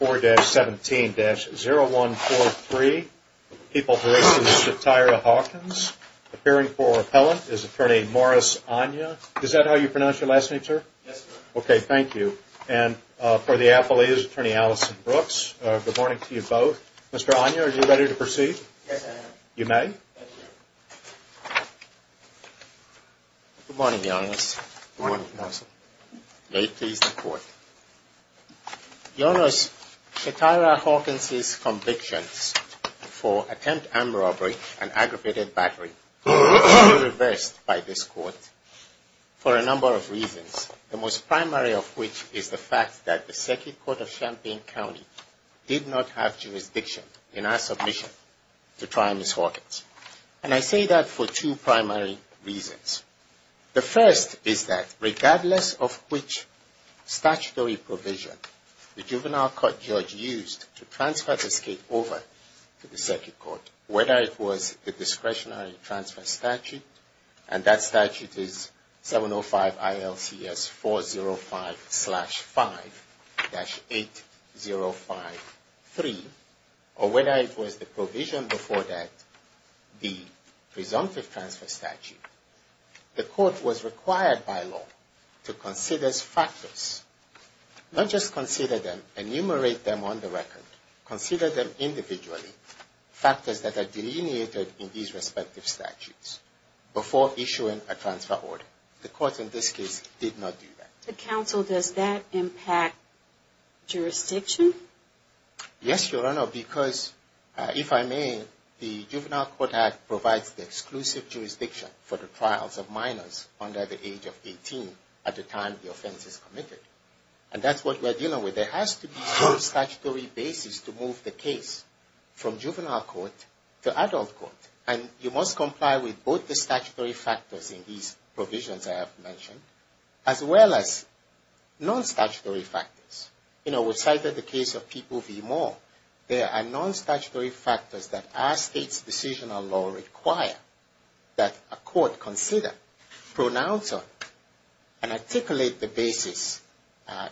4-17-0143, People's Relationship, Tyra Hawkins. Appearing for repellent is Attorney Morris Anya. Is that how you pronounce your last name, sir? Yes, sir. Okay, thank you. And for the affiliates, Attorney Allison Brooks. Good morning to you both. Mr. Anya, are you ready to proceed? Yes, I am. You may. Thank you. Good morning, Your Honor. Good morning, Your Honor. May it please the Court. Your Honor, Tyra Hawkins' convictions for attempt armed robbery and aggravated battery were reversed by this Court for a number of reasons, the most primary of which is the fact that the Second Court of Champaign County did not have jurisdiction in our submission to try Ms. Hawkins. And I say that for two primary reasons. The first is that regardless of which statutory provision the juvenile court judge used to transfer this case over to the Second Court, whether it was the discretionary transfer statute, and that statute is 705 ILCS 405-5-8053, or whether it was the provision before that, the presumptive transfer statute, the Court was required by law to consider factors, not just consider them, enumerate them on the record, consider them individually, factors that are delineated in these respective statutes before issuing a transfer order. The Court in this case did not do that. The counsel, does that impact jurisdiction? Yes, Your Honor, because if I may, the Juvenile Court Act provides the exclusive jurisdiction for the trials of minors under the age of 18 at the time the offense is committed. And that's what we're dealing with. There has to be some statutory basis to move the case from juvenile court to adult court. And you must comply with both the statutory factors in these provisions I have mentioned, as well as non-statutory factors. You know, we cited the case of people v. Moore. There are non-statutory factors that our state's decision on law require that a court consider, pronounce on, and articulate the basis,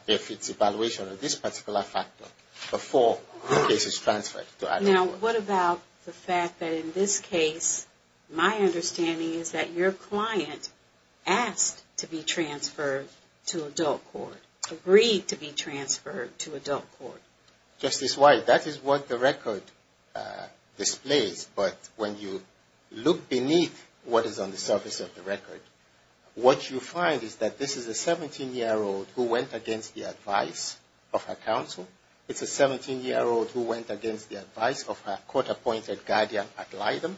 if it's evaluation of this particular factor, before the case is transferred to adult court. Now, what about the fact that in this case, my understanding is that your client asked to be transferred to adult court, agreed to be transferred to adult court. Justice White, that is what the record displays. But when you look beneath what is on the surface of the record, what you find is that this is a 17-year-old who went against the advice of her counsel. It's a 17-year-old who went against the advice of her court-appointed guardian ad litem.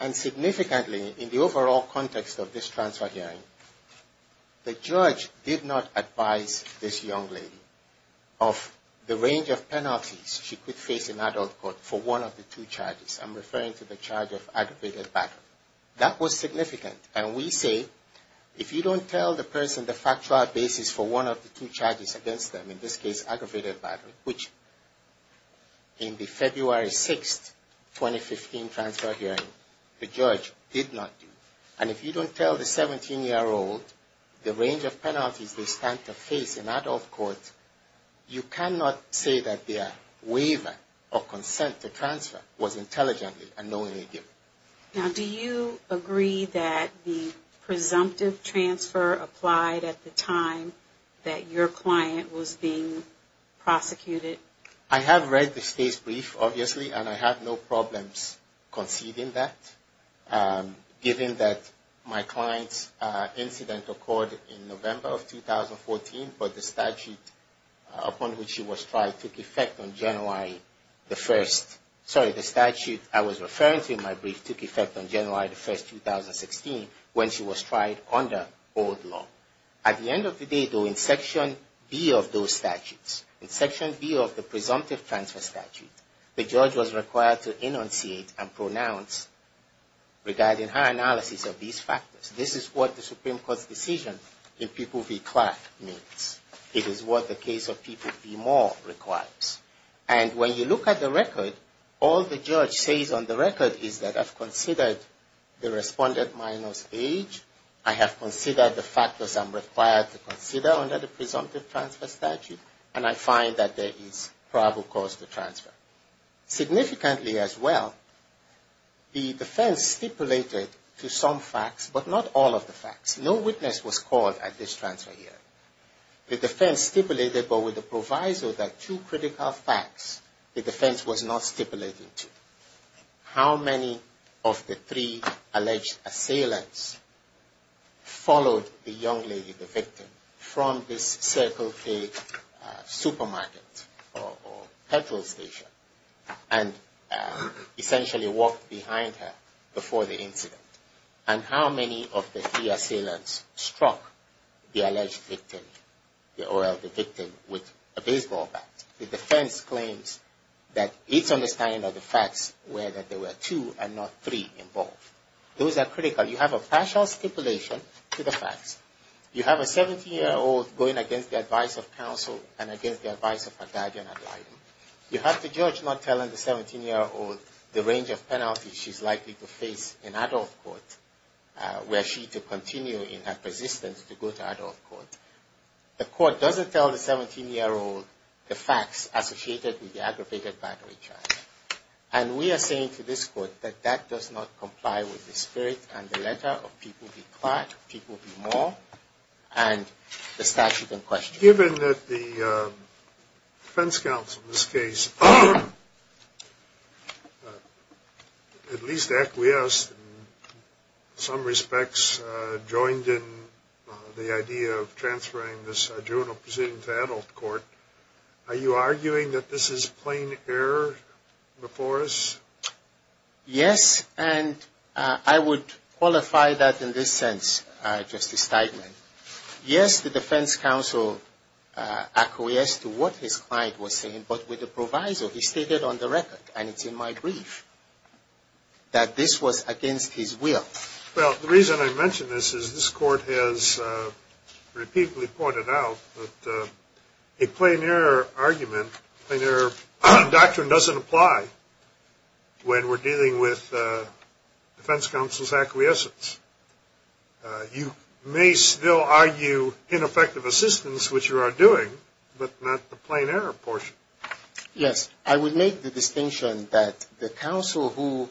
And significantly, in the overall context of this transfer hearing, the judge did not advise this young lady of the range of penalties she could face in adult court for one of the two charges. I'm referring to the charge of aggravated battery. That was significant. And we say, if you don't tell the person the factual basis for one of the two charges against them, in this case, aggravated battery, which in the February 6, 2015 transfer hearing, the judge did not do. And if you don't tell the 17-year-old the range of penalties they stand to face in adult court, you cannot say that their waiver or consent to transfer was intelligently and knowingly given. Now, do you agree that the presumptive transfer applied at the time that your client was being prosecuted? I have read the state's brief, obviously, and I have no problems conceding that, given that my client's incident occurred in November of 2014, but the statute upon which she was tried took effect on January the 1st. Sorry, the statute I was referring to in my brief took effect on January the 1st, 2016, when she was tried under old law. At the end of the day, though, in Section B of those statutes, in Section B of the presumptive transfer statute, the judge was required to enunciate and pronounce regarding her analysis of these factors. This is what the Supreme Court's decision in People v. Clark means. It is what the case of People v. Moore requires. And when you look at the record, all the judge says on the record is that I've considered the respondent minus age, I have considered the factors I'm required to consider under the presumptive transfer statute, and I find that there is probable cause to transfer. Significantly as well, the defense stipulated to some facts, but not all of the facts. No witness was called at this transfer hearing. The defense stipulated, but with the proviso that two critical facts the defense was not stipulating to. How many of the three alleged assailants followed the young lady, the victim, from this Circle K supermarket or petrol station and essentially walked behind her before the incident? And how many of the three assailants struck the alleged victim or the victim with a baseball bat? The defense claims that its understanding of the facts were that there were two and not three involved. Those are critical. You have a partial stipulation to the facts. You have a 17-year-old going against the advice of counsel and against the advice of her guardian ad litem. You have the judge not telling the 17-year-old the range of penalties she's likely to face in adult court were she to continue in her persistence to go to adult court. The court doesn't tell the 17-year-old the facts associated with the aggravated battery charge. And we are saying to this court that that does not comply with the spirit and the letter of people be quiet, people be more, and the statute in question. Given that the defense counsel in this case at least acquiesced in some respects, joined in the idea of transferring this juvenile proceeding to adult court, are you arguing that this is plain error before us? Yes, and I would qualify that in this sense, Justice Steigman. Yes, the defense counsel acquiesced to what his client was saying, but with the proviso he stated on the record, and it's in my brief, that this was against his will. Well, the reason I mention this is this court has repeatedly pointed out that a plain error argument, plain error doctrine doesn't apply when we're dealing with defense counsel's acquiescence. You may still argue ineffective assistance, which you are doing, but not the plain error portion. Yes. I would make the distinction that the counsel who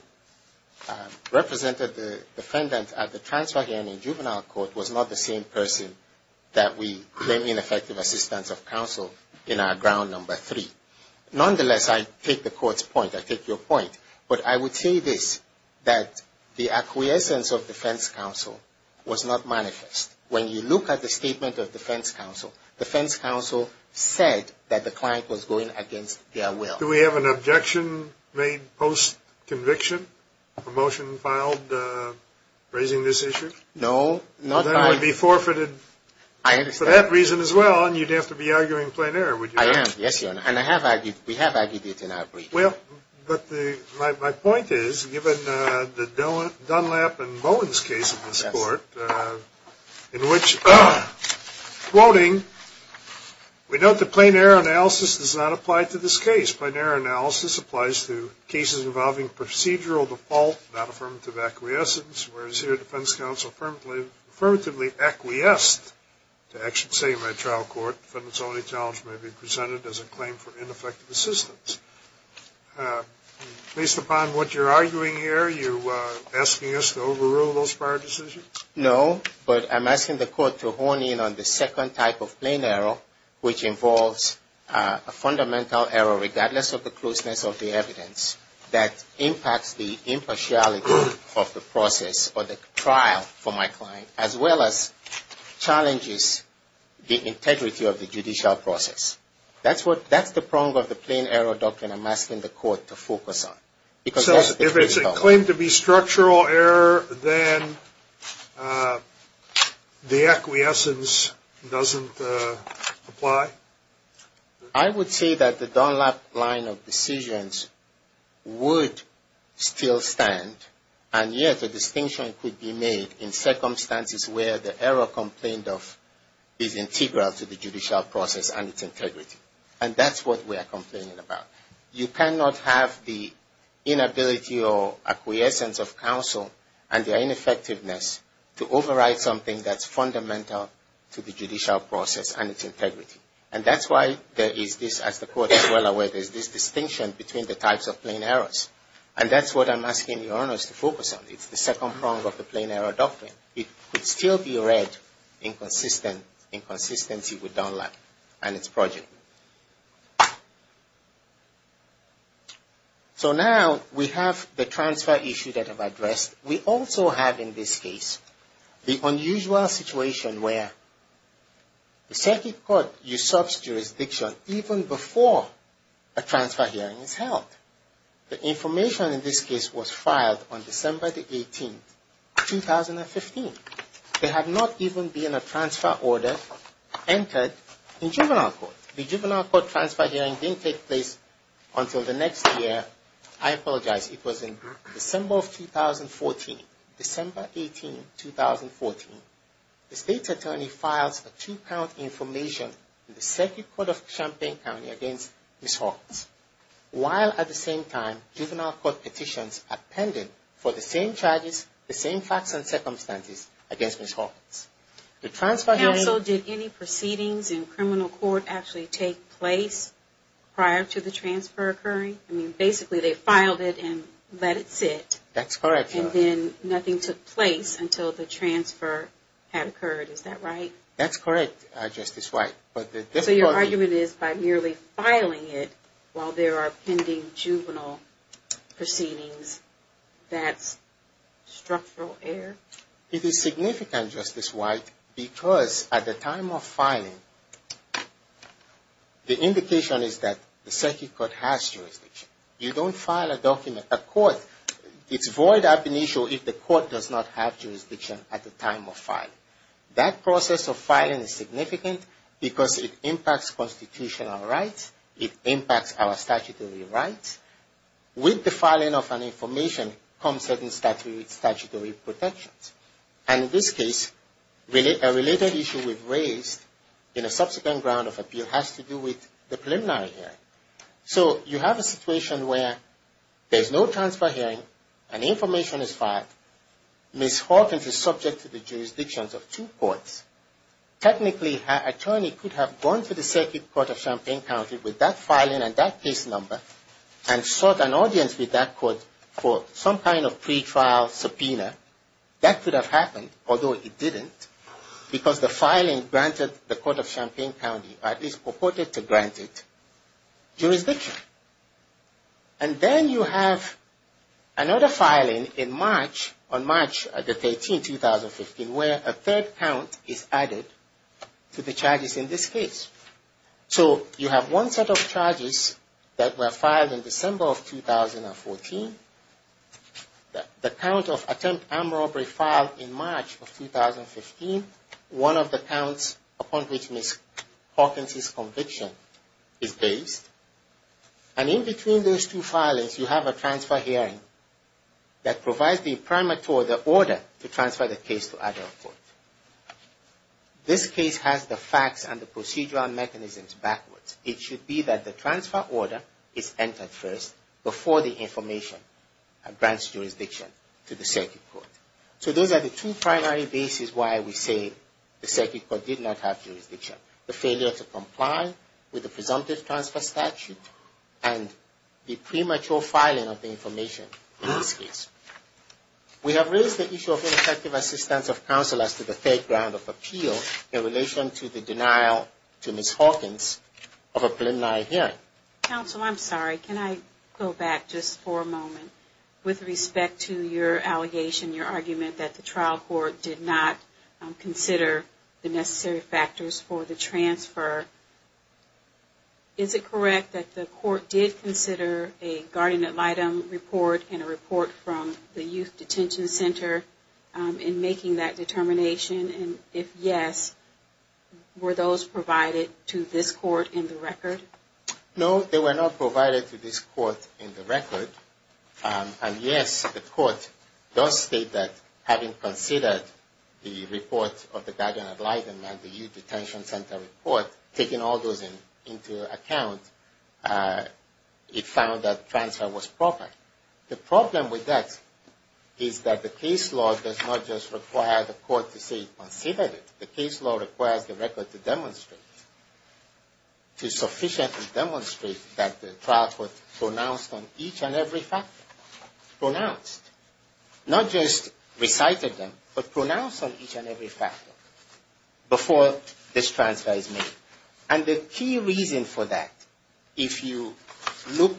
represented the defendant at the transfer hearing in juvenile court was not the same person that we claim ineffective assistance of counsel in our ground number three. Nonetheless, I take the court's point. I take your point. But I would say this, that the acquiescence of defense counsel was not manifest. When you look at the statement of defense counsel, defense counsel said that the client was going against their will. Do we have an objection made post-conviction? A motion filed raising this issue? No. Then it would be forfeited for that reason as well, and you'd have to be arguing plain error, would you? I am. Yes, Your Honor. And we have argued it in our brief. Well, but my point is, given the Dunlap and Bowen's case in this court, in which, quoting, we note that plain error analysis does not apply to this case. Plain error analysis applies to cases involving procedural default, not affirmative acquiescence, whereas here defense counsel affirmatively acquiesced to actions taken by a trial court. And so the challenge may be presented as a claim for ineffective assistance. Based upon what you're arguing here, are you asking us to overrule those prior decisions? No, but I'm asking the court to hone in on the second type of plain error, which involves a fundamental error, regardless of the closeness of the evidence, that impacts the impartiality of the process or the trial for my client, as well as challenges the integrity of the judicial process. That's the prong of the plain error doctrine I'm asking the court to focus on. So if it's a claim to be structural error, then the acquiescence doesn't apply? I would say that the Dunlap line of decisions would still stand, and yet a distinction could be made in circumstances where the error complained of is integral to the judicial process and its integrity. And that's what we are complaining about. You cannot have the inability or acquiescence of counsel and their ineffectiveness to override something that's fundamental to the judicial process and its integrity. And that's why there is this, as the court is well aware, there's this distinction between the types of plain errors. And that's what I'm asking the owners to focus on. It's the second prong of the plain error doctrine. It could still be read in consistency with Dunlap and its project. So now we have the transfer issue that I've addressed. We also have in this case the unusual situation where the circuit court usurps jurisdiction even before a transfer hearing is held. The information in this case was filed on December the 18th, 2015. There had not even been a transfer order entered in juvenile court. The juvenile court transfer hearing didn't take place until the next year. I apologize. It was in December of 2014, December 18, 2014. The state attorney files a two-count information in the circuit court of Champaign County against Ms. Hawkins while at the same time juvenile court petitions are pending for the same charges, the same facts and circumstances against Ms. Hawkins. Counsel, did any proceedings in criminal court actually take place prior to the transfer occurring? I mean, basically they filed it and let it sit. That's correct, Your Honor. But then nothing took place until the transfer had occurred. Is that right? That's correct, Justice White. So your argument is by merely filing it while there are pending juvenile proceedings, that's structural error? It is significant, Justice White, because at the time of filing, the indication is that the circuit court has jurisdiction. You don't file a court. It's void ab initio if the court does not have jurisdiction at the time of filing. That process of filing is significant because it impacts constitutional rights. It impacts our statutory rights. With the filing of an information comes certain statutory protections. And in this case, a related issue we've raised in a subsequent ground of appeal has to do with the preliminary hearing. So you have a situation where there's no transfer hearing. An information is filed. Ms. Hawkins is subject to the jurisdictions of two courts. Technically, an attorney could have gone to the circuit court of Champaign County with that filing and that case number and sought an audience with that court for some kind of pretrial subpoena. That could have happened, although it didn't, because the filing granted the court of Champaign County, or at least purported to grant it, jurisdiction. And then you have another filing in March, on March the 13th, 2015, where a third count is added to the charges in this case. So you have one set of charges that were filed in December of 2014. The count of attempt armed robbery filed in March of 2015, one of the counts upon which Ms. Hawkins' conviction is based. And in between those two filings, you have a transfer hearing that provides the order to transfer the case to other courts. This case has the facts and the procedural mechanisms backwards. It should be that the transfer order is entered first before the information grants jurisdiction to the circuit court. So those are the two primary bases why we say the circuit court did not have jurisdiction. The failure to comply with the presumptive transfer statute and the premature filing of the information in this case. We have raised the issue of ineffective assistance of counselors to the third ground of appeal in relation to the denial to Ms. Hawkins of a preliminary hearing. Counsel, I'm sorry. Can I go back just for a moment? With respect to your allegation, your argument that the trial court did not consider the necessary factors for the transfer, is it correct that the court did consider a guardian ad litem report and a report from the youth detention center in making that determination? And if yes, were those provided to this court in the record? No, they were not provided to this court in the record. And yes, the court does state that having considered the report of the guardian ad litem and the youth detention center report, taking all those into account, it found that transfer was proper. The problem with that is that the case law does not just require the court to say it considered it. The case law requires the record to demonstrate, to sufficiently demonstrate that the trial court pronounced on each and every factor. Pronounced. Not just recited them, but pronounced on each and every factor before this transfer is made. And the key reason for that, if you look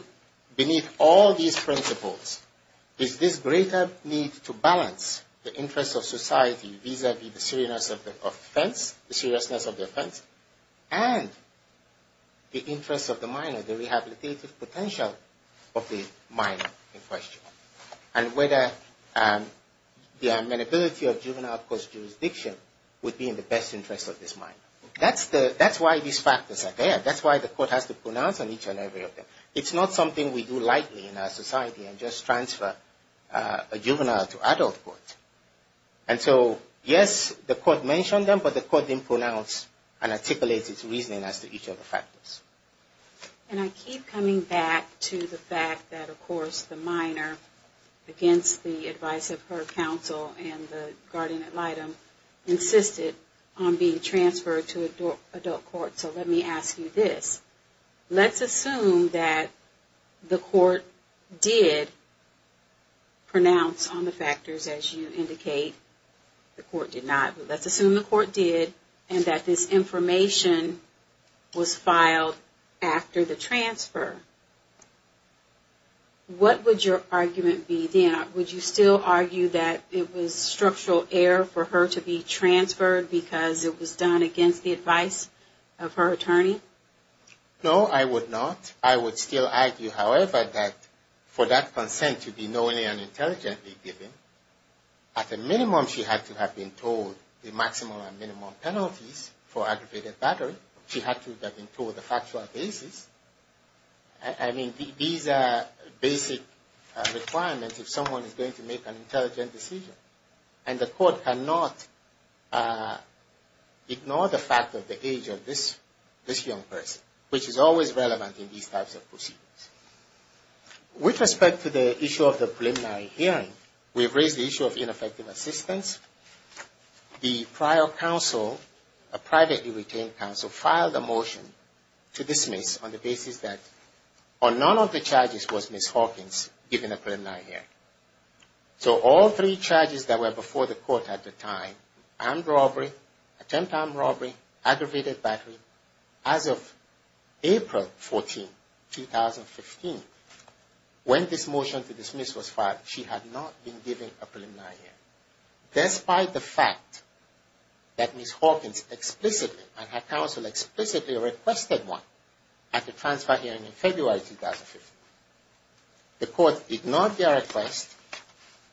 beneath all these principles, is this greater need to balance the interest of society vis-a-vis the seriousness of the offense and the interest of the minor, the rehabilitative potential of the minor in question. And whether the amenability of juvenile court's jurisdiction would be in the best interest of this minor. That's why these factors are there. That's why the court has to pronounce on each and every of them. It's not something we do lightly in our society and just transfer a juvenile to adult court. And so, yes, the court mentioned them, but the court didn't pronounce and articulate its reasoning as to each of the factors. And I keep coming back to the fact that, of course, the minor against the advice of her counsel and the guardian ad litem insisted on being transferred to adult court. So let me ask you this. Let's assume that the court did pronounce on the factors as you indicate. The court did not. Let's assume the court did and that this information was filed after the transfer. What would your argument be then? Would you still argue that it was structural error for her to be transferred because it was done against the advice of her attorney? No, I would not. I would still argue, however, that for that consent to be knowingly and intelligently given, at a minimum, she had to have been told the maximum and minimum penalties for aggravated battery. She had to have been told the factual basis. I mean, these are basic requirements if someone is going to make an intelligent decision. And the court cannot ignore the fact of the age of this young person, which is always relevant in these types of proceedings. With respect to the issue of the preliminary hearing, we have raised the issue of ineffective assistance. The prior counsel, a privately retained counsel, filed a motion to dismiss on the basis that none of the charges was Ms. Hawkins, given the preliminary hearing. So all three charges that were before the court at the time, armed robbery, attempted armed robbery, aggravated battery, as of April 14, 2015, when this motion to dismiss was filed, she had not been given a preliminary hearing, despite the fact that Ms. Hawkins explicitly and her counsel explicitly requested one at the transfer hearing in February 2015. The court ignored their request,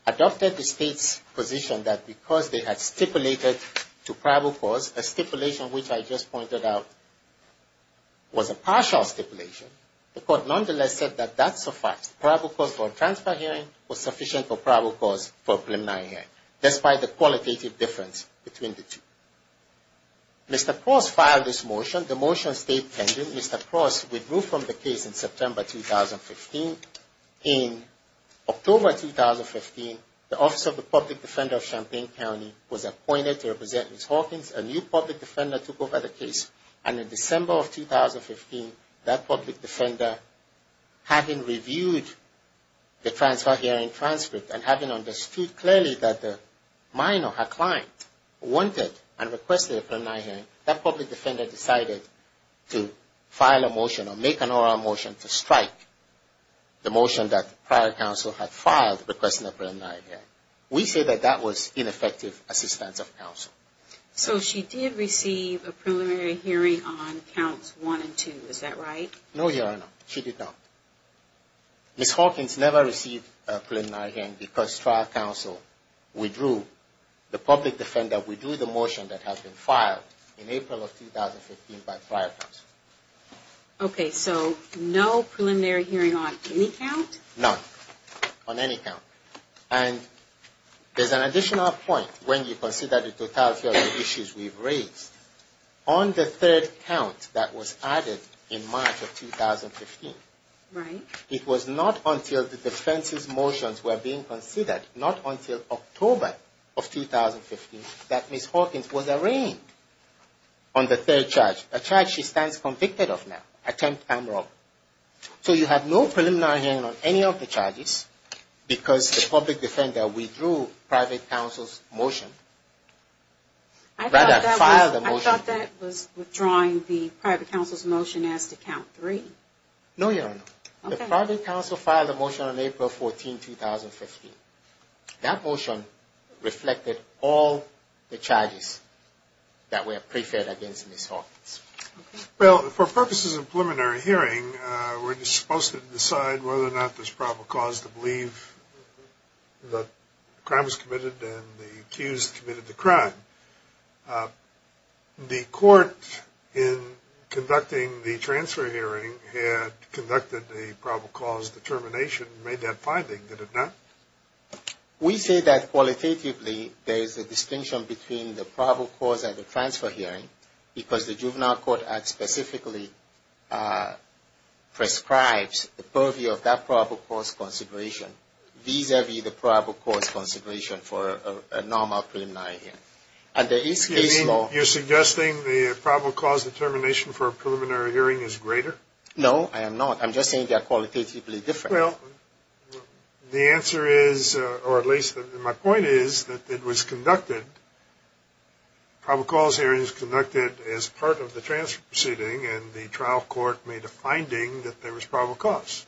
adopted the state's position that because they had stipulated to probable cause, a stipulation which I just pointed out was a partial stipulation, the court nonetheless said that that's a fact. Probable cause for a transfer hearing was sufficient for probable cause for a preliminary hearing, despite the qualitative difference between the two. Mr. Cross filed this motion. The motion stayed pending. Mr. Cross withdrew from the case in September 2015. In October 2015, the Office of the Public Defender of Champaign County was appointed to represent Ms. Hawkins. A new public defender took over the case, and in December of 2015, that public defender, having reviewed the transfer hearing transcript and having understood clearly that the minor, her client, wanted and requested a preliminary hearing, that public defender decided to file a motion or make an oral motion to strike the motion that the prior counsel had filed requesting a preliminary hearing. We say that that was ineffective assistance of counsel. So she did receive a preliminary hearing on Counts 1 and 2, is that right? No, Your Honor, she did not. Ms. Hawkins never received a preliminary hearing because trial counsel withdrew. The public defender withdrew the motion that had been filed in April of 2015 by prior counsel. Okay, so no preliminary hearing on any count? None, on any count. And there's an additional point when you consider the totality of the issues we've raised. On the third count that was added in March of 2015, it was not until the defense's motions were being considered, not until October of 2015, that Ms. Hawkins was arraigned on the third charge, a charge she stands convicted of now. So you have no preliminary hearing on any of the charges because the public defender withdrew private counsel's motion. I thought that was withdrawing the private counsel's motion as to Count 3. No, Your Honor. The private counsel filed a motion on April 14, 2015. That motion reflected all the charges that were pre-filled against Ms. Hawkins. Well, for purposes of preliminary hearing, we're just supposed to decide whether or not there's probable cause to believe that the crime was committed and the accused committed the crime. The court, in conducting the transfer hearing, had conducted a probable cause determination and made that finding, did it not? We say that qualitatively there is a distinction between the probable cause and the transfer hearing because the Juvenile Court Act specifically prescribes the purview of that probable cause consideration vis-a-vis the probable cause consideration for a normal preliminary hearing. And there is case law You're suggesting the probable cause determination for a preliminary hearing is greater? No, I am not. I'm just saying they are qualitatively different. Well, the answer is, or at least my point is, that it was conducted, probable cause hearing is conducted as part of the transfer proceeding and the trial court made a finding that there was probable cause.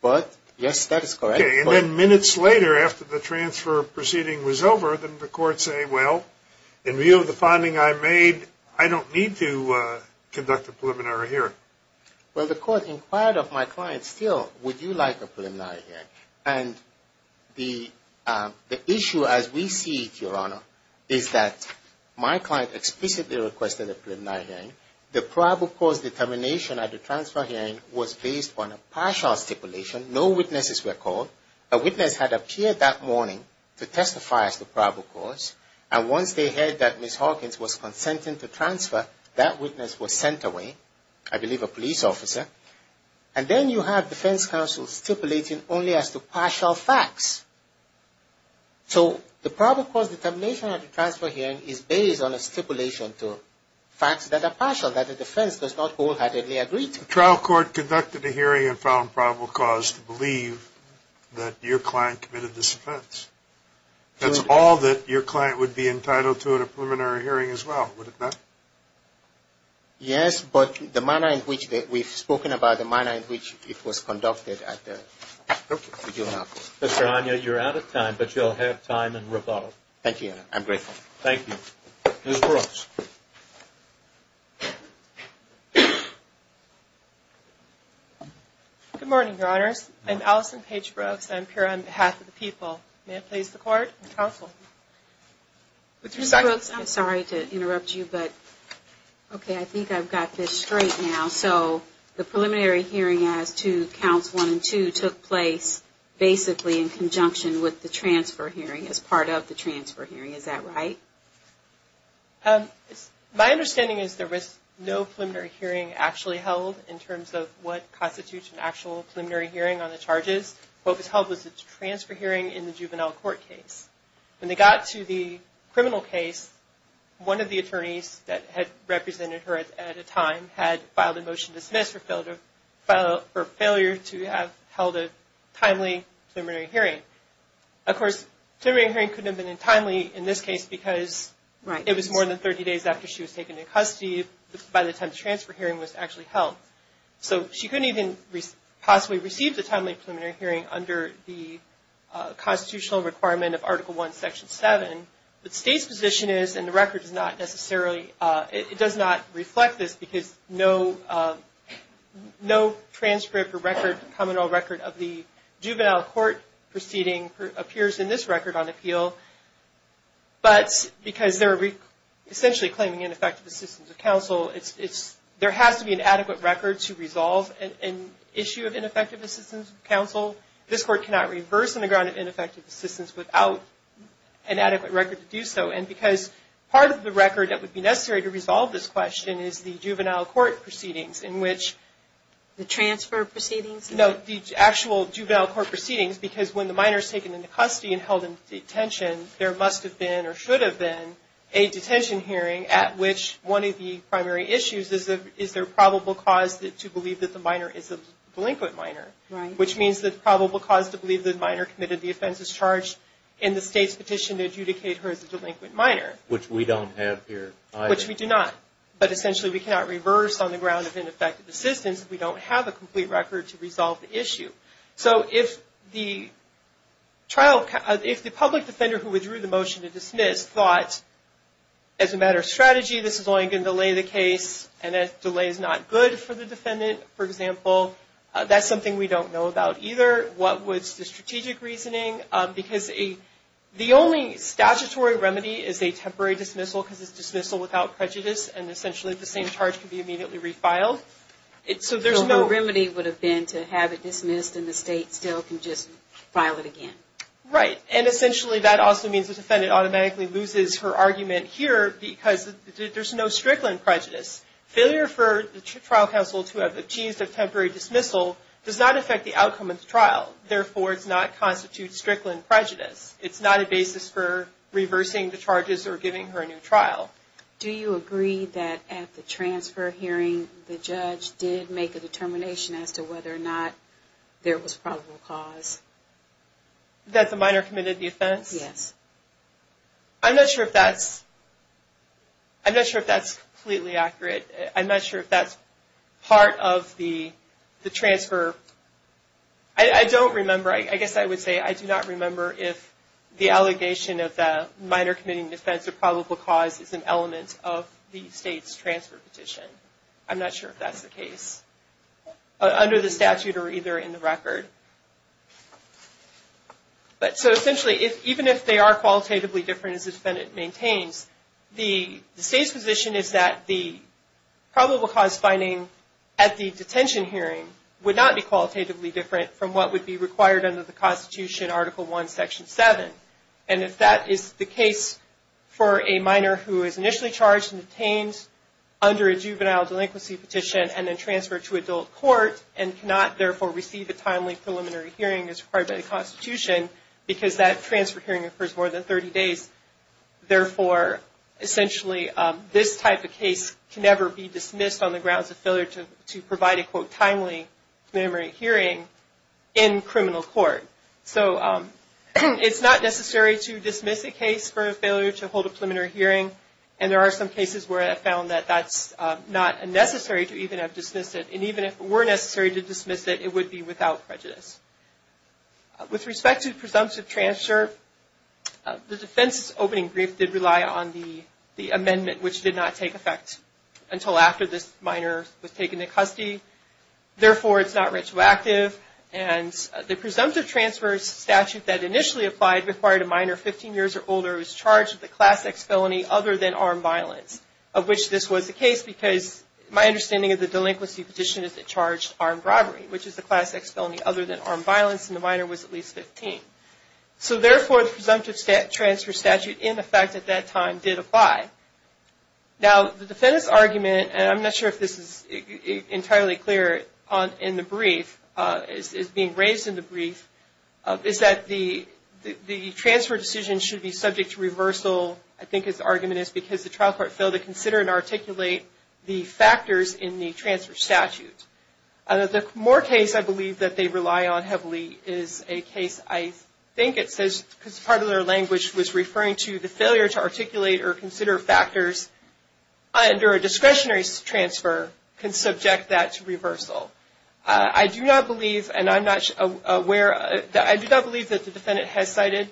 But, yes, that is correct. And then minutes later, after the transfer proceeding was over, didn't the court say, well, in view of the finding I made, I don't need to conduct a preliminary hearing? Well, the court inquired of my client still, would you like a preliminary hearing? And the court specifically requested a preliminary hearing. The probable cause determination at the transfer hearing was based on a partial stipulation. No witnesses were called. A witness had appeared that morning to testify as to probable cause. And once they heard that Ms. Hawkins was consenting to transfer, that witness was sent away, I believe a police officer. And then you have defense counsel stipulating only as to partial facts. So the probable cause determination at the transfer hearing is based on a stipulation to facts that are partial, that the defense does not wholeheartedly agree to. The trial court conducted a hearing and found probable cause to believe that your client committed this offense. That's all that your client would be entitled to in a preliminary hearing as well, would it not? Yes, but the manner in which we've spoken about the manner in which it was conducted at the, would you allow me? Mr. Anya, you're out of time, but you'll have time in rebuttal. Thank you, I'm grateful. Thank you. Ms. Brooks. Good morning, Your Honors. I'm Alison Page Brooks. I'm here on behalf of the people. May I please the court and counsel? Ms. Brooks, I'm sorry to interrupt you, but okay, I think I've got this straight now. So the preliminary hearing as to counts one and two took place basically in conjunction with the transfer hearing as part of the transfer hearing. Is that right? My understanding is there was no preliminary hearing actually held in terms of what constitutes an actual preliminary hearing on the charges. What was held was a transfer hearing in the juvenile court case. When they got to the criminal case, one of the attorneys that had represented her at a time had filed a motion to dismiss for failure to have held a timely preliminary hearing. Of course, preliminary hearing couldn't have been timely in this case because it was more than 30 days after she was taken into custody by the time the transfer hearing was actually held. So she couldn't even possibly receive the timely preliminary hearing under the constitutional requirement of Article I, Section 7. The state's position is, and the record does not necessarily, it does not reflect this because no transcript or record, common law record of the juvenile court proceeding appears in this record on appeal. But because they're essentially claiming ineffective assistance of counsel, there has to be an adequate record to resolve an issue of ineffective assistance of counsel. This Court cannot reverse on the ground of ineffective assistance without an adequate record to do so. And because part of the record that would be necessary to resolve this question is the juvenile court proceedings in which... The transfer proceedings? No, the actual juvenile court proceedings because when the minor is taken into custody and held in detention, there must have been or should have been a detention hearing at which one of the primary issues is their probable cause to believe that the minor is a delinquent minor. Which means the probable cause to believe the minor committed the offenses charged in the state's petition to adjudicate her as a delinquent minor. Which we don't have here either. Which we do not. But essentially we cannot reverse on the ground of ineffective assistance if we don't have a complete record to resolve the issue. So if the public defender who withdrew the motion to dismiss thought, as a matter of strategy, this is only going to delay the case and if delay is not good for the defendant, for example, that's something we don't know about either. What was the strategic reasoning? Because the only statutory remedy is a temporary dismissal because it's dismissal without prejudice and essentially the same charge can be immediately refiled. So there's no... So the remedy would have been to have it dismissed and the state still can just file it again. Right. And essentially that also means the defendant automatically loses her argument here because there's no Strickland prejudice. Failure for the trial counsel to have achieved a temporary dismissal does not affect the outcome of the trial. Therefore, it does not constitute Strickland prejudice. It's not a basis for reversing the charges or giving her a new trial. Do you agree that at the transfer hearing the judge did make a determination as to whether or not there was probable cause? That the minor committed the offense? Yes. I'm not sure if that's completely accurate. I'm not sure if that's part of the transfer. I don't remember. I guess I would say I do not remember if the allegation of the minor committing offense or probable cause is an element of the state's transfer petition. I'm not sure if that's the case under the statute or either in the record. But so essentially even if they are qualitatively different as the defendant maintains, the state's position is that the probable cause finding at the detention hearing would not be qualitatively different from what would be required under the Constitution, Article I, Section 7. And if that is the case for a minor who is initially charged and detained under a juvenile delinquency petition and then transferred to adult court and cannot therefore receive a transfer hearing for more than 30 days, therefore essentially this type of case can never be dismissed on the grounds of failure to provide a, quote, timely preliminary hearing in criminal court. So it's not necessary to dismiss a case for failure to hold a preliminary hearing. And there are some cases where I found that that's not necessary to even have dismissed it. And even if it were necessary to the defense's opening brief did rely on the amendment, which did not take effect until after this minor was taken into custody. Therefore, it's not retroactive. And the presumptive transfer statute that initially applied required a minor 15 years or older who was charged with a Class X felony other than armed violence, of which this was the case because my understanding of the delinquency petition is it charged armed robbery, which is the Class X felony other than armed violence, and the minor was at least 15. So therefore the presumptive transfer statute, in effect at that time, did apply. Now, the defendant's argument, and I'm not sure if this is entirely clear in the brief, is being raised in the brief, is that the transfer decision should be subject to reversal, I think his argument is, because the trial court failed to consider and articulate the factors under a discretionary transfer, can subject that to reversal. I do not believe, and I'm not aware, I do not believe that the defendant has cited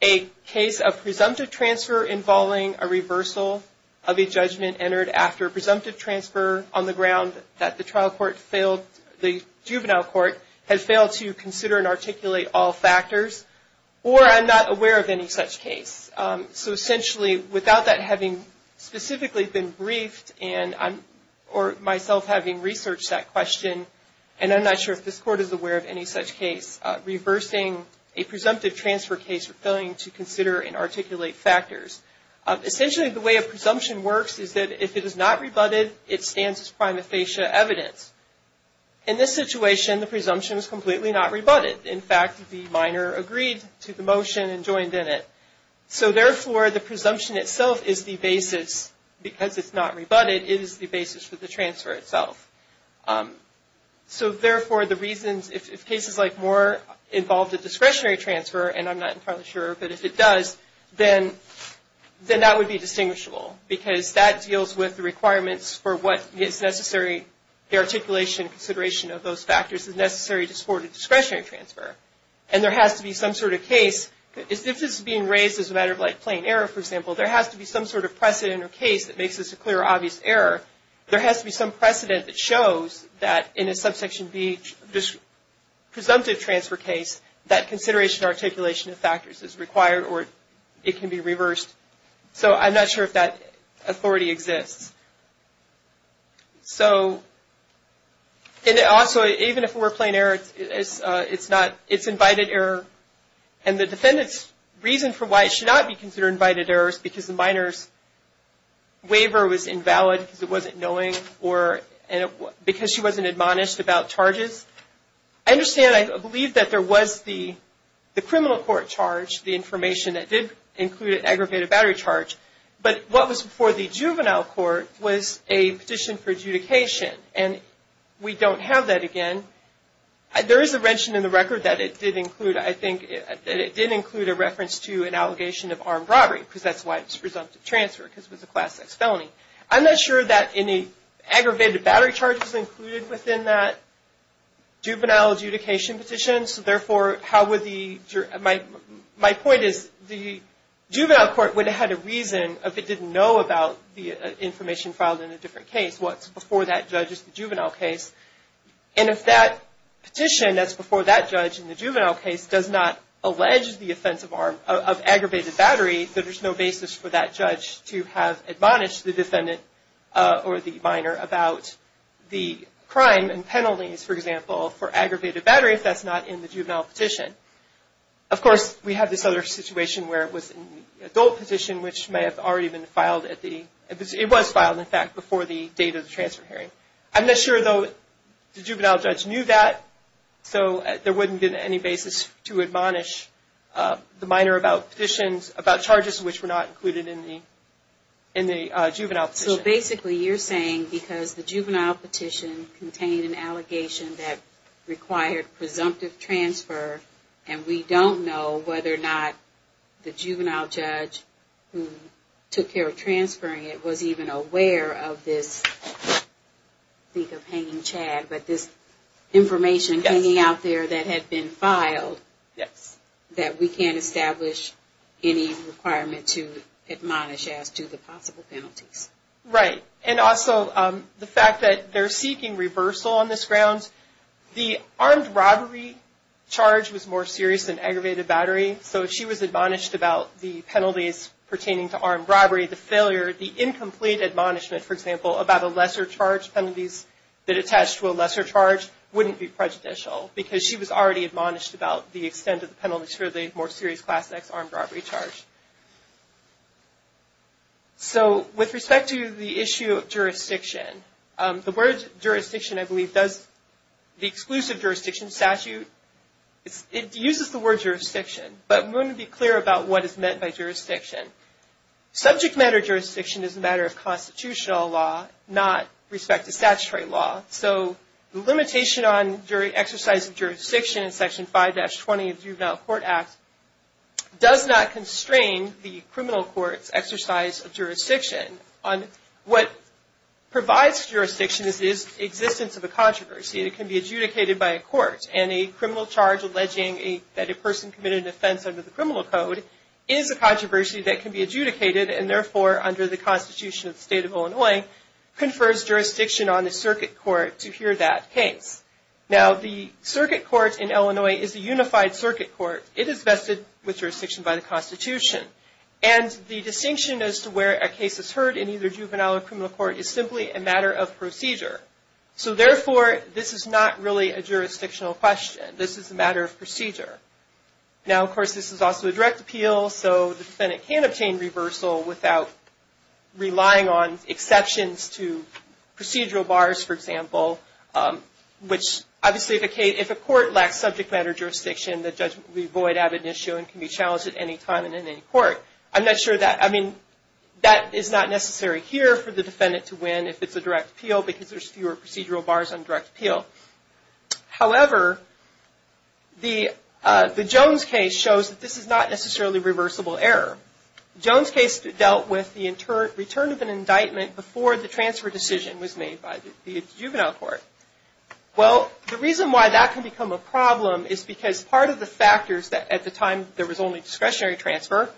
a case of presumptive transfer involving a reversal of a judgment entered after a presumptive transfer on the ground that the trial court failed, the juvenile court, to consider and articulate all factors, or I'm not aware of any such case. So essentially, without that having specifically been briefed, or myself having researched that question, and I'm not sure if this court is aware of any such case, reversing a presumptive transfer case or failing to consider and articulate factors. Essentially, the way a presumption works is that if it is not rebutted, it stands as prima facie evidence. In this situation, the presumption is completely not rebutted. In fact, the minor agreed to the motion and joined in it. So therefore, the presumption itself is the basis, because it's not rebutted, it is the basis for the transfer itself. So therefore, the reasons, if cases like Moore involved a discretionary transfer, and I'm not entirely sure, but if it does, then that would be distinguishable, because that deals with the requirements for what is necessary, the articulation and consideration of those factors is necessary to support a discretionary transfer. And there has to be some sort of case, if this is being raised as a matter of plain error, for example, there has to be some sort of precedent or case that makes this a clear or obvious error. There has to be some precedent that shows that in a subsection B presumptive transfer case, that consideration or articulation of factors is required or it can be reversed. So I'm not sure if that authority exists. So, and also, even if it were plain error, it's invited error. And the defendant's reason for why it should not be considered invited error is because the minor's waiver was invalid, because it wasn't knowing, or because she wasn't admonished about charges. I understand, I believe that there was the criminal court charge, the information that did include an aggravated battery charge, but what was before the juvenile court was a petition for adjudication, and we don't have that again. There is a mention in the record that it did include, I think, that it did include a reference to an allegation of armed robbery, because that's why it's presumptive transfer, because it was a class X felony. I'm not sure that any aggravated battery charge was included within that juvenile adjudication petition, so therefore, how would the, my point is, the juvenile court would have had a reason if it didn't know about the information filed in a different case. What's before that judge is the juvenile case, and if that petition that's before that judge in the juvenile case does not allege the offense of aggravated battery, then there's no basis for that judge to have admonished the defendant or the minor about the crime and penalties, for example, for aggravated battery if that's not in the juvenile petition. Of course, we have this other situation where it was in the adult petition, which may have already been filed at the, it was filed, in fact, before the date of the transfer hearing. I'm not sure, though, the juvenile judge knew that, so there wouldn't be any basis to admonish the minor about petitions, about charges which were not included in the juvenile petition. So basically, you're saying because the juvenile petition contained an allegation that required presumptive transfer, and we don't know whether or not the juvenile judge who I think of hanging Chad, but this information hanging out there that had been filed, that we can't establish any requirement to admonish as to the possible penalties. Right, and also the fact that they're seeking reversal on this ground. The armed robbery charge was more serious than aggravated battery, so she was admonished about the penalties pertaining to armed robbery, the failure, the incomplete admonishment, for example, about a lesser charge penalties that attach to a lesser charge wouldn't be prejudicial, because she was already admonished about the extent of the penalties for the more serious Class X armed robbery charge. So, with respect to the issue of jurisdiction, the word jurisdiction, I believe, does, the exclusive jurisdiction statute, it uses the word jurisdiction, but we want to be clear about what is meant by jurisdiction. Subject matter jurisdiction is a matter of constitutional law, not respect to statutory law, so the limitation on exercise of jurisdiction in Section 5-20 of the Juvenile Court Act does not constrain the criminal court's exercise of jurisdiction on what provides jurisdiction is the existence of a controversy that can be adjudicated by a court, and a criminal charge alleging that a person committed an offense under the criminal code is a controversy that can be adjudicated, and therefore, under the Constitution of the State of Illinois, confers jurisdiction on the circuit court to hear that case. Now, the circuit court in Illinois is a unified circuit court. It is vested with jurisdiction by the Constitution, and the distinction as to where a case is heard in either juvenile or criminal court is simply a matter of procedure. So, therefore, this is not really a jurisdictional question. This is a matter of procedure. Now, of course, this is also a direct appeal, so the defendant can obtain reversal without relying on exceptions to procedural bars, for example, which, obviously, if a court lacks subject matter jurisdiction, the judgment will be void, have an issue, and can be challenged at any time and in any court. I'm not sure that, I mean, that is not necessary here for the defendant to win if it's a direct appeal because there's fewer procedural bars on direct appeal. However, the Jones case shows that this is not necessarily reversible error. The Jones case dealt with the return of an indictment before the transfer decision was made by the juvenile court. Well, the reason why that can become a problem is because part of the factors at the time there was only discretionary transfer,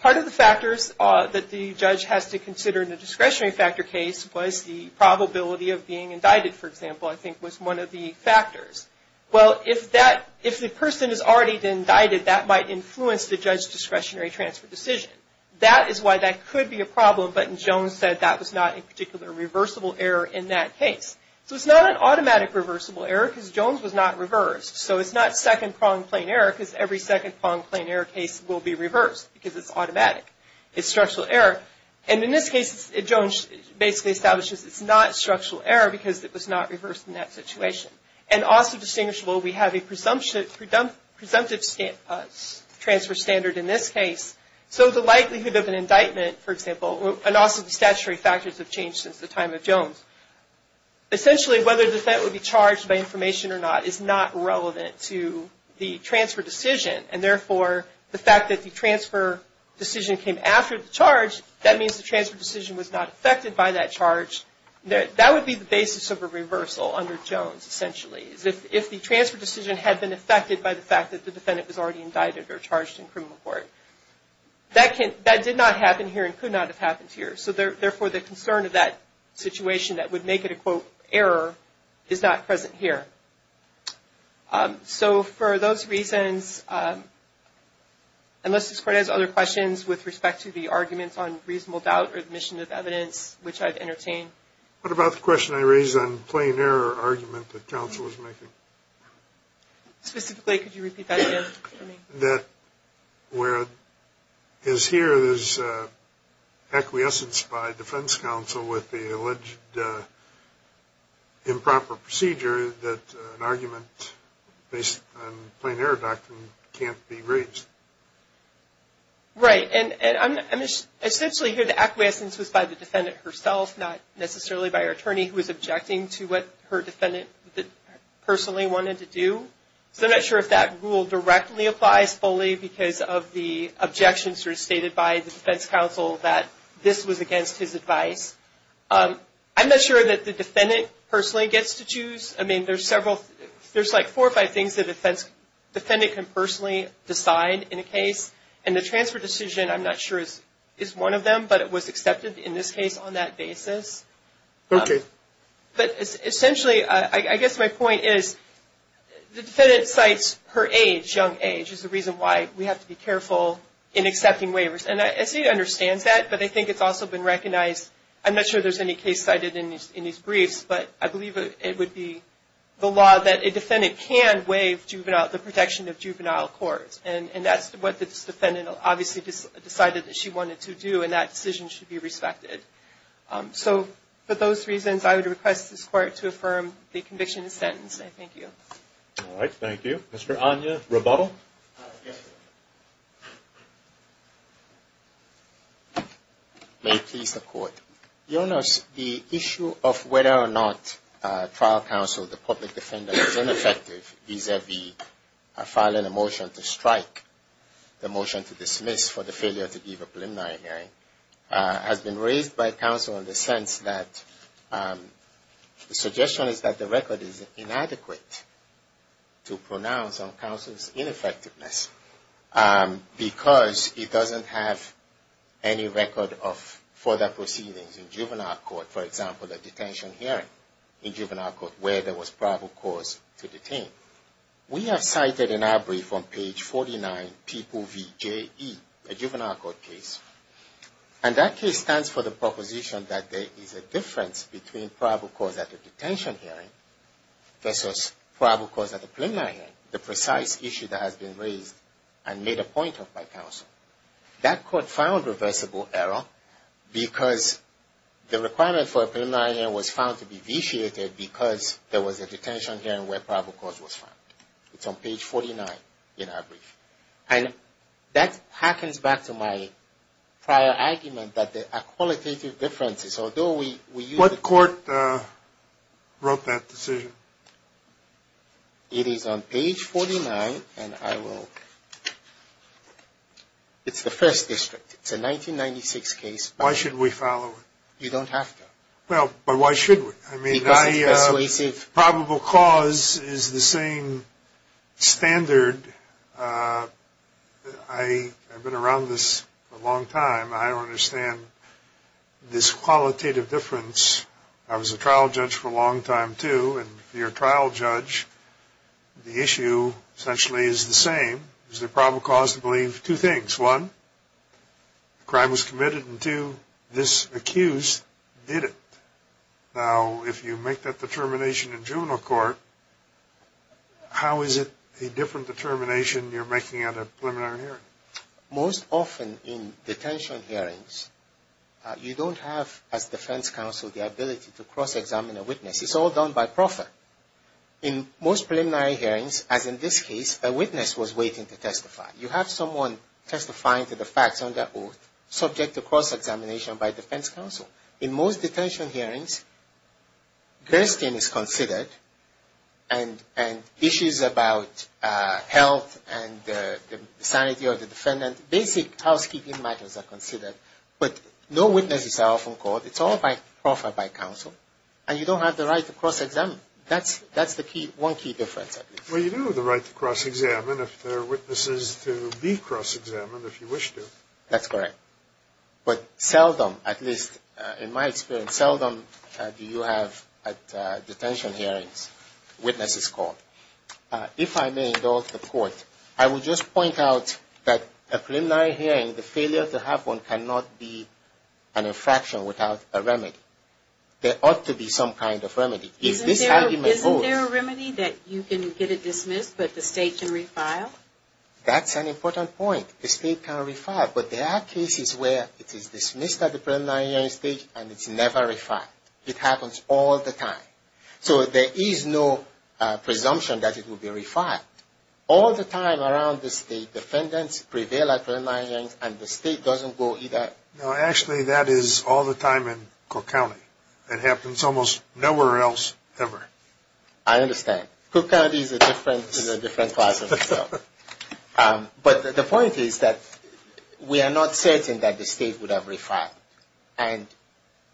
part of the factors that the judge has to consider in the discretionary factor case was the probability of being indicted, for example, I think was one of the factors. Well, if the person is already indicted, that might influence the judge's discretionary transfer decision. That is why that could be a problem, but Jones said that was not a particular reversible error in that case. So it's not an automatic reversible error because Jones was not reversed. So it's not second-pronged plain error because every second-pronged plain error case will be reversed because it's automatic. It's structural error. And in this case, Jones basically establishes it's not structural error because it was not reversed in that situation. And also distinguishable, we have a presumptive transfer standard in this case. So the likelihood of an indictment, for example, and also the statutory factors have changed since the time of Jones. Essentially, whether the defendant would be charged by information or not is not relevant to the transfer decision. And therefore, the fact that the transfer decision came after the charge, that means the transfer decision was not affected by that charge. That would be the basis of reversal under Jones, essentially. If the transfer decision had been affected by the fact that the defendant was already indicted or charged in criminal court, that did not happen here and could not have happened here. So therefore, the concern of that situation that would make it a quote, error, is not present here. So for those reasons, unless this Court has other questions with respect to the arguments on plain error argument that counsel was making. Specifically, could you repeat that again for me? Where as here, there's acquiescence by defense counsel with the alleged improper procedure that an argument based on plain error doctrine can't be raised. Right. And essentially here, the acquiescence was by the defendant herself, not necessarily by her attorney who was objecting to what her defendant personally wanted to do. So I'm not sure if that rule directly applies fully because of the objections that were stated by the defense counsel that this was against his advice. I'm not sure that the defendant personally gets to choose. I mean, there's several, there's like four or five things that a defendant can personally decide in a case. And the transfer decision, I'm not sure is one of them, but it was accepted in this case on that basis. Okay. But essentially, I guess my point is the defendant cites her age, young age, is the reason why we have to be careful in accepting waivers. And the state understands that, but I think it's also been recognized. I'm not sure there's any case cited in these briefs, but I believe it would be the law that a defendant can waive the protection of juvenile court. And that's what this defendant obviously decided that she wanted to do, and that decision should be respected. So for those reasons, I would request this Court to affirm the conviction and sentence. Thank you. All right. Thank you. Mr. Anya Rebuttal. Yes, sir. May it please the Court. Your Honor, the issue of whether or not trial counsel, the public defender, is ineffective vis-a-vis filing a motion to strike, the motion to dismiss for the failure to give a preliminary hearing, has been raised by counsel in the sense that the suggestion is that the record is inadequate to pronounce on counsel's ineffectiveness because it doesn't have any record of further proceedings in juvenile court. For example, the detention hearing in juvenile court where there was probable cause to detain. We have cited in our brief on page 49, P.O.V.J.E., a juvenile court case, and that case stands for the proposition that there is a difference between probable cause at the detention hearing versus probable cause at the preliminary hearing, the precise issue that has been raised and made a point of by counsel. That court found reversible error because the requirement for a preliminary hearing was found to be vitiated because there was a detention hearing where probable cause was found. It's on page 49 in our brief. And that harkens back to my prior argument that there are qualitative differences, although we use the... It is on page 49, and I will... It's the first district. It's a 1996 case. Why should we follow it? You don't have to. Well, but why should we? I mean, probable cause is the same standard. I've been around this a long time. I understand this qualitative difference. I was a trial judge for a long time, too, and if you're a trial judge, the issue essentially is the same. Is there probable cause to believe two things? One, the crime was committed, and two, this accused did it. Now, if you make that determination in juvenile court, how is it a different determination you're making at a preliminary hearing? Most often in detention hearings, you don't have, as defense counsel, the ability to cross-examine a witness. It's all done by proffer. In most preliminary hearings, as in this case, a witness was waiting to testify. You have someone testifying to the facts under oath, subject to cross-examination by defense counsel. In most detention hearings, guillotine is considered, and issues about health and the sanity of the defendant, basic housekeeping matters are considered, but no witnesses are often called. It's all by proffer, by counsel, and you don't have the right to cross-examine. That's the one key difference, at least. Well, you do have the right to cross-examine if there are witnesses to be cross-examined, if you wish to. That's correct. But seldom, at least in my experience, seldom do you have, at detention hearings, witnesses called. If I may indulge the court, I would just point out that a preliminary hearing, the failure to have one, cannot be an infraction without a remedy. There ought to be some kind of remedy. If this argument holds... Isn't there a remedy that you can get it dismissed, but the State can refile? That's an important point. The State can refile, but there are cases where it is dismissed at the preliminary hearing stage and it's never refiled. It happens all the time. So there is no presumption that it will be refiled. All the time around the State, defendants prevail at preliminary hearings, and the State doesn't go either... No, actually, that is all the time in Cook County. It happens almost nowhere else, ever. I understand. Cook County is a different class of... But the point is that we are not certain that the State would have refiled. And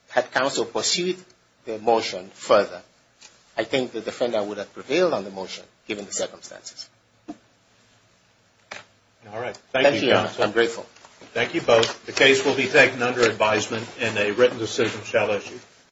had counsel pursued the motion further, I think the defendant would have prevailed on the motion, given the circumstances. Thank you, Jonathan. I'm grateful. Thank you both. The case will be taken under advisement and a written decision shall issue.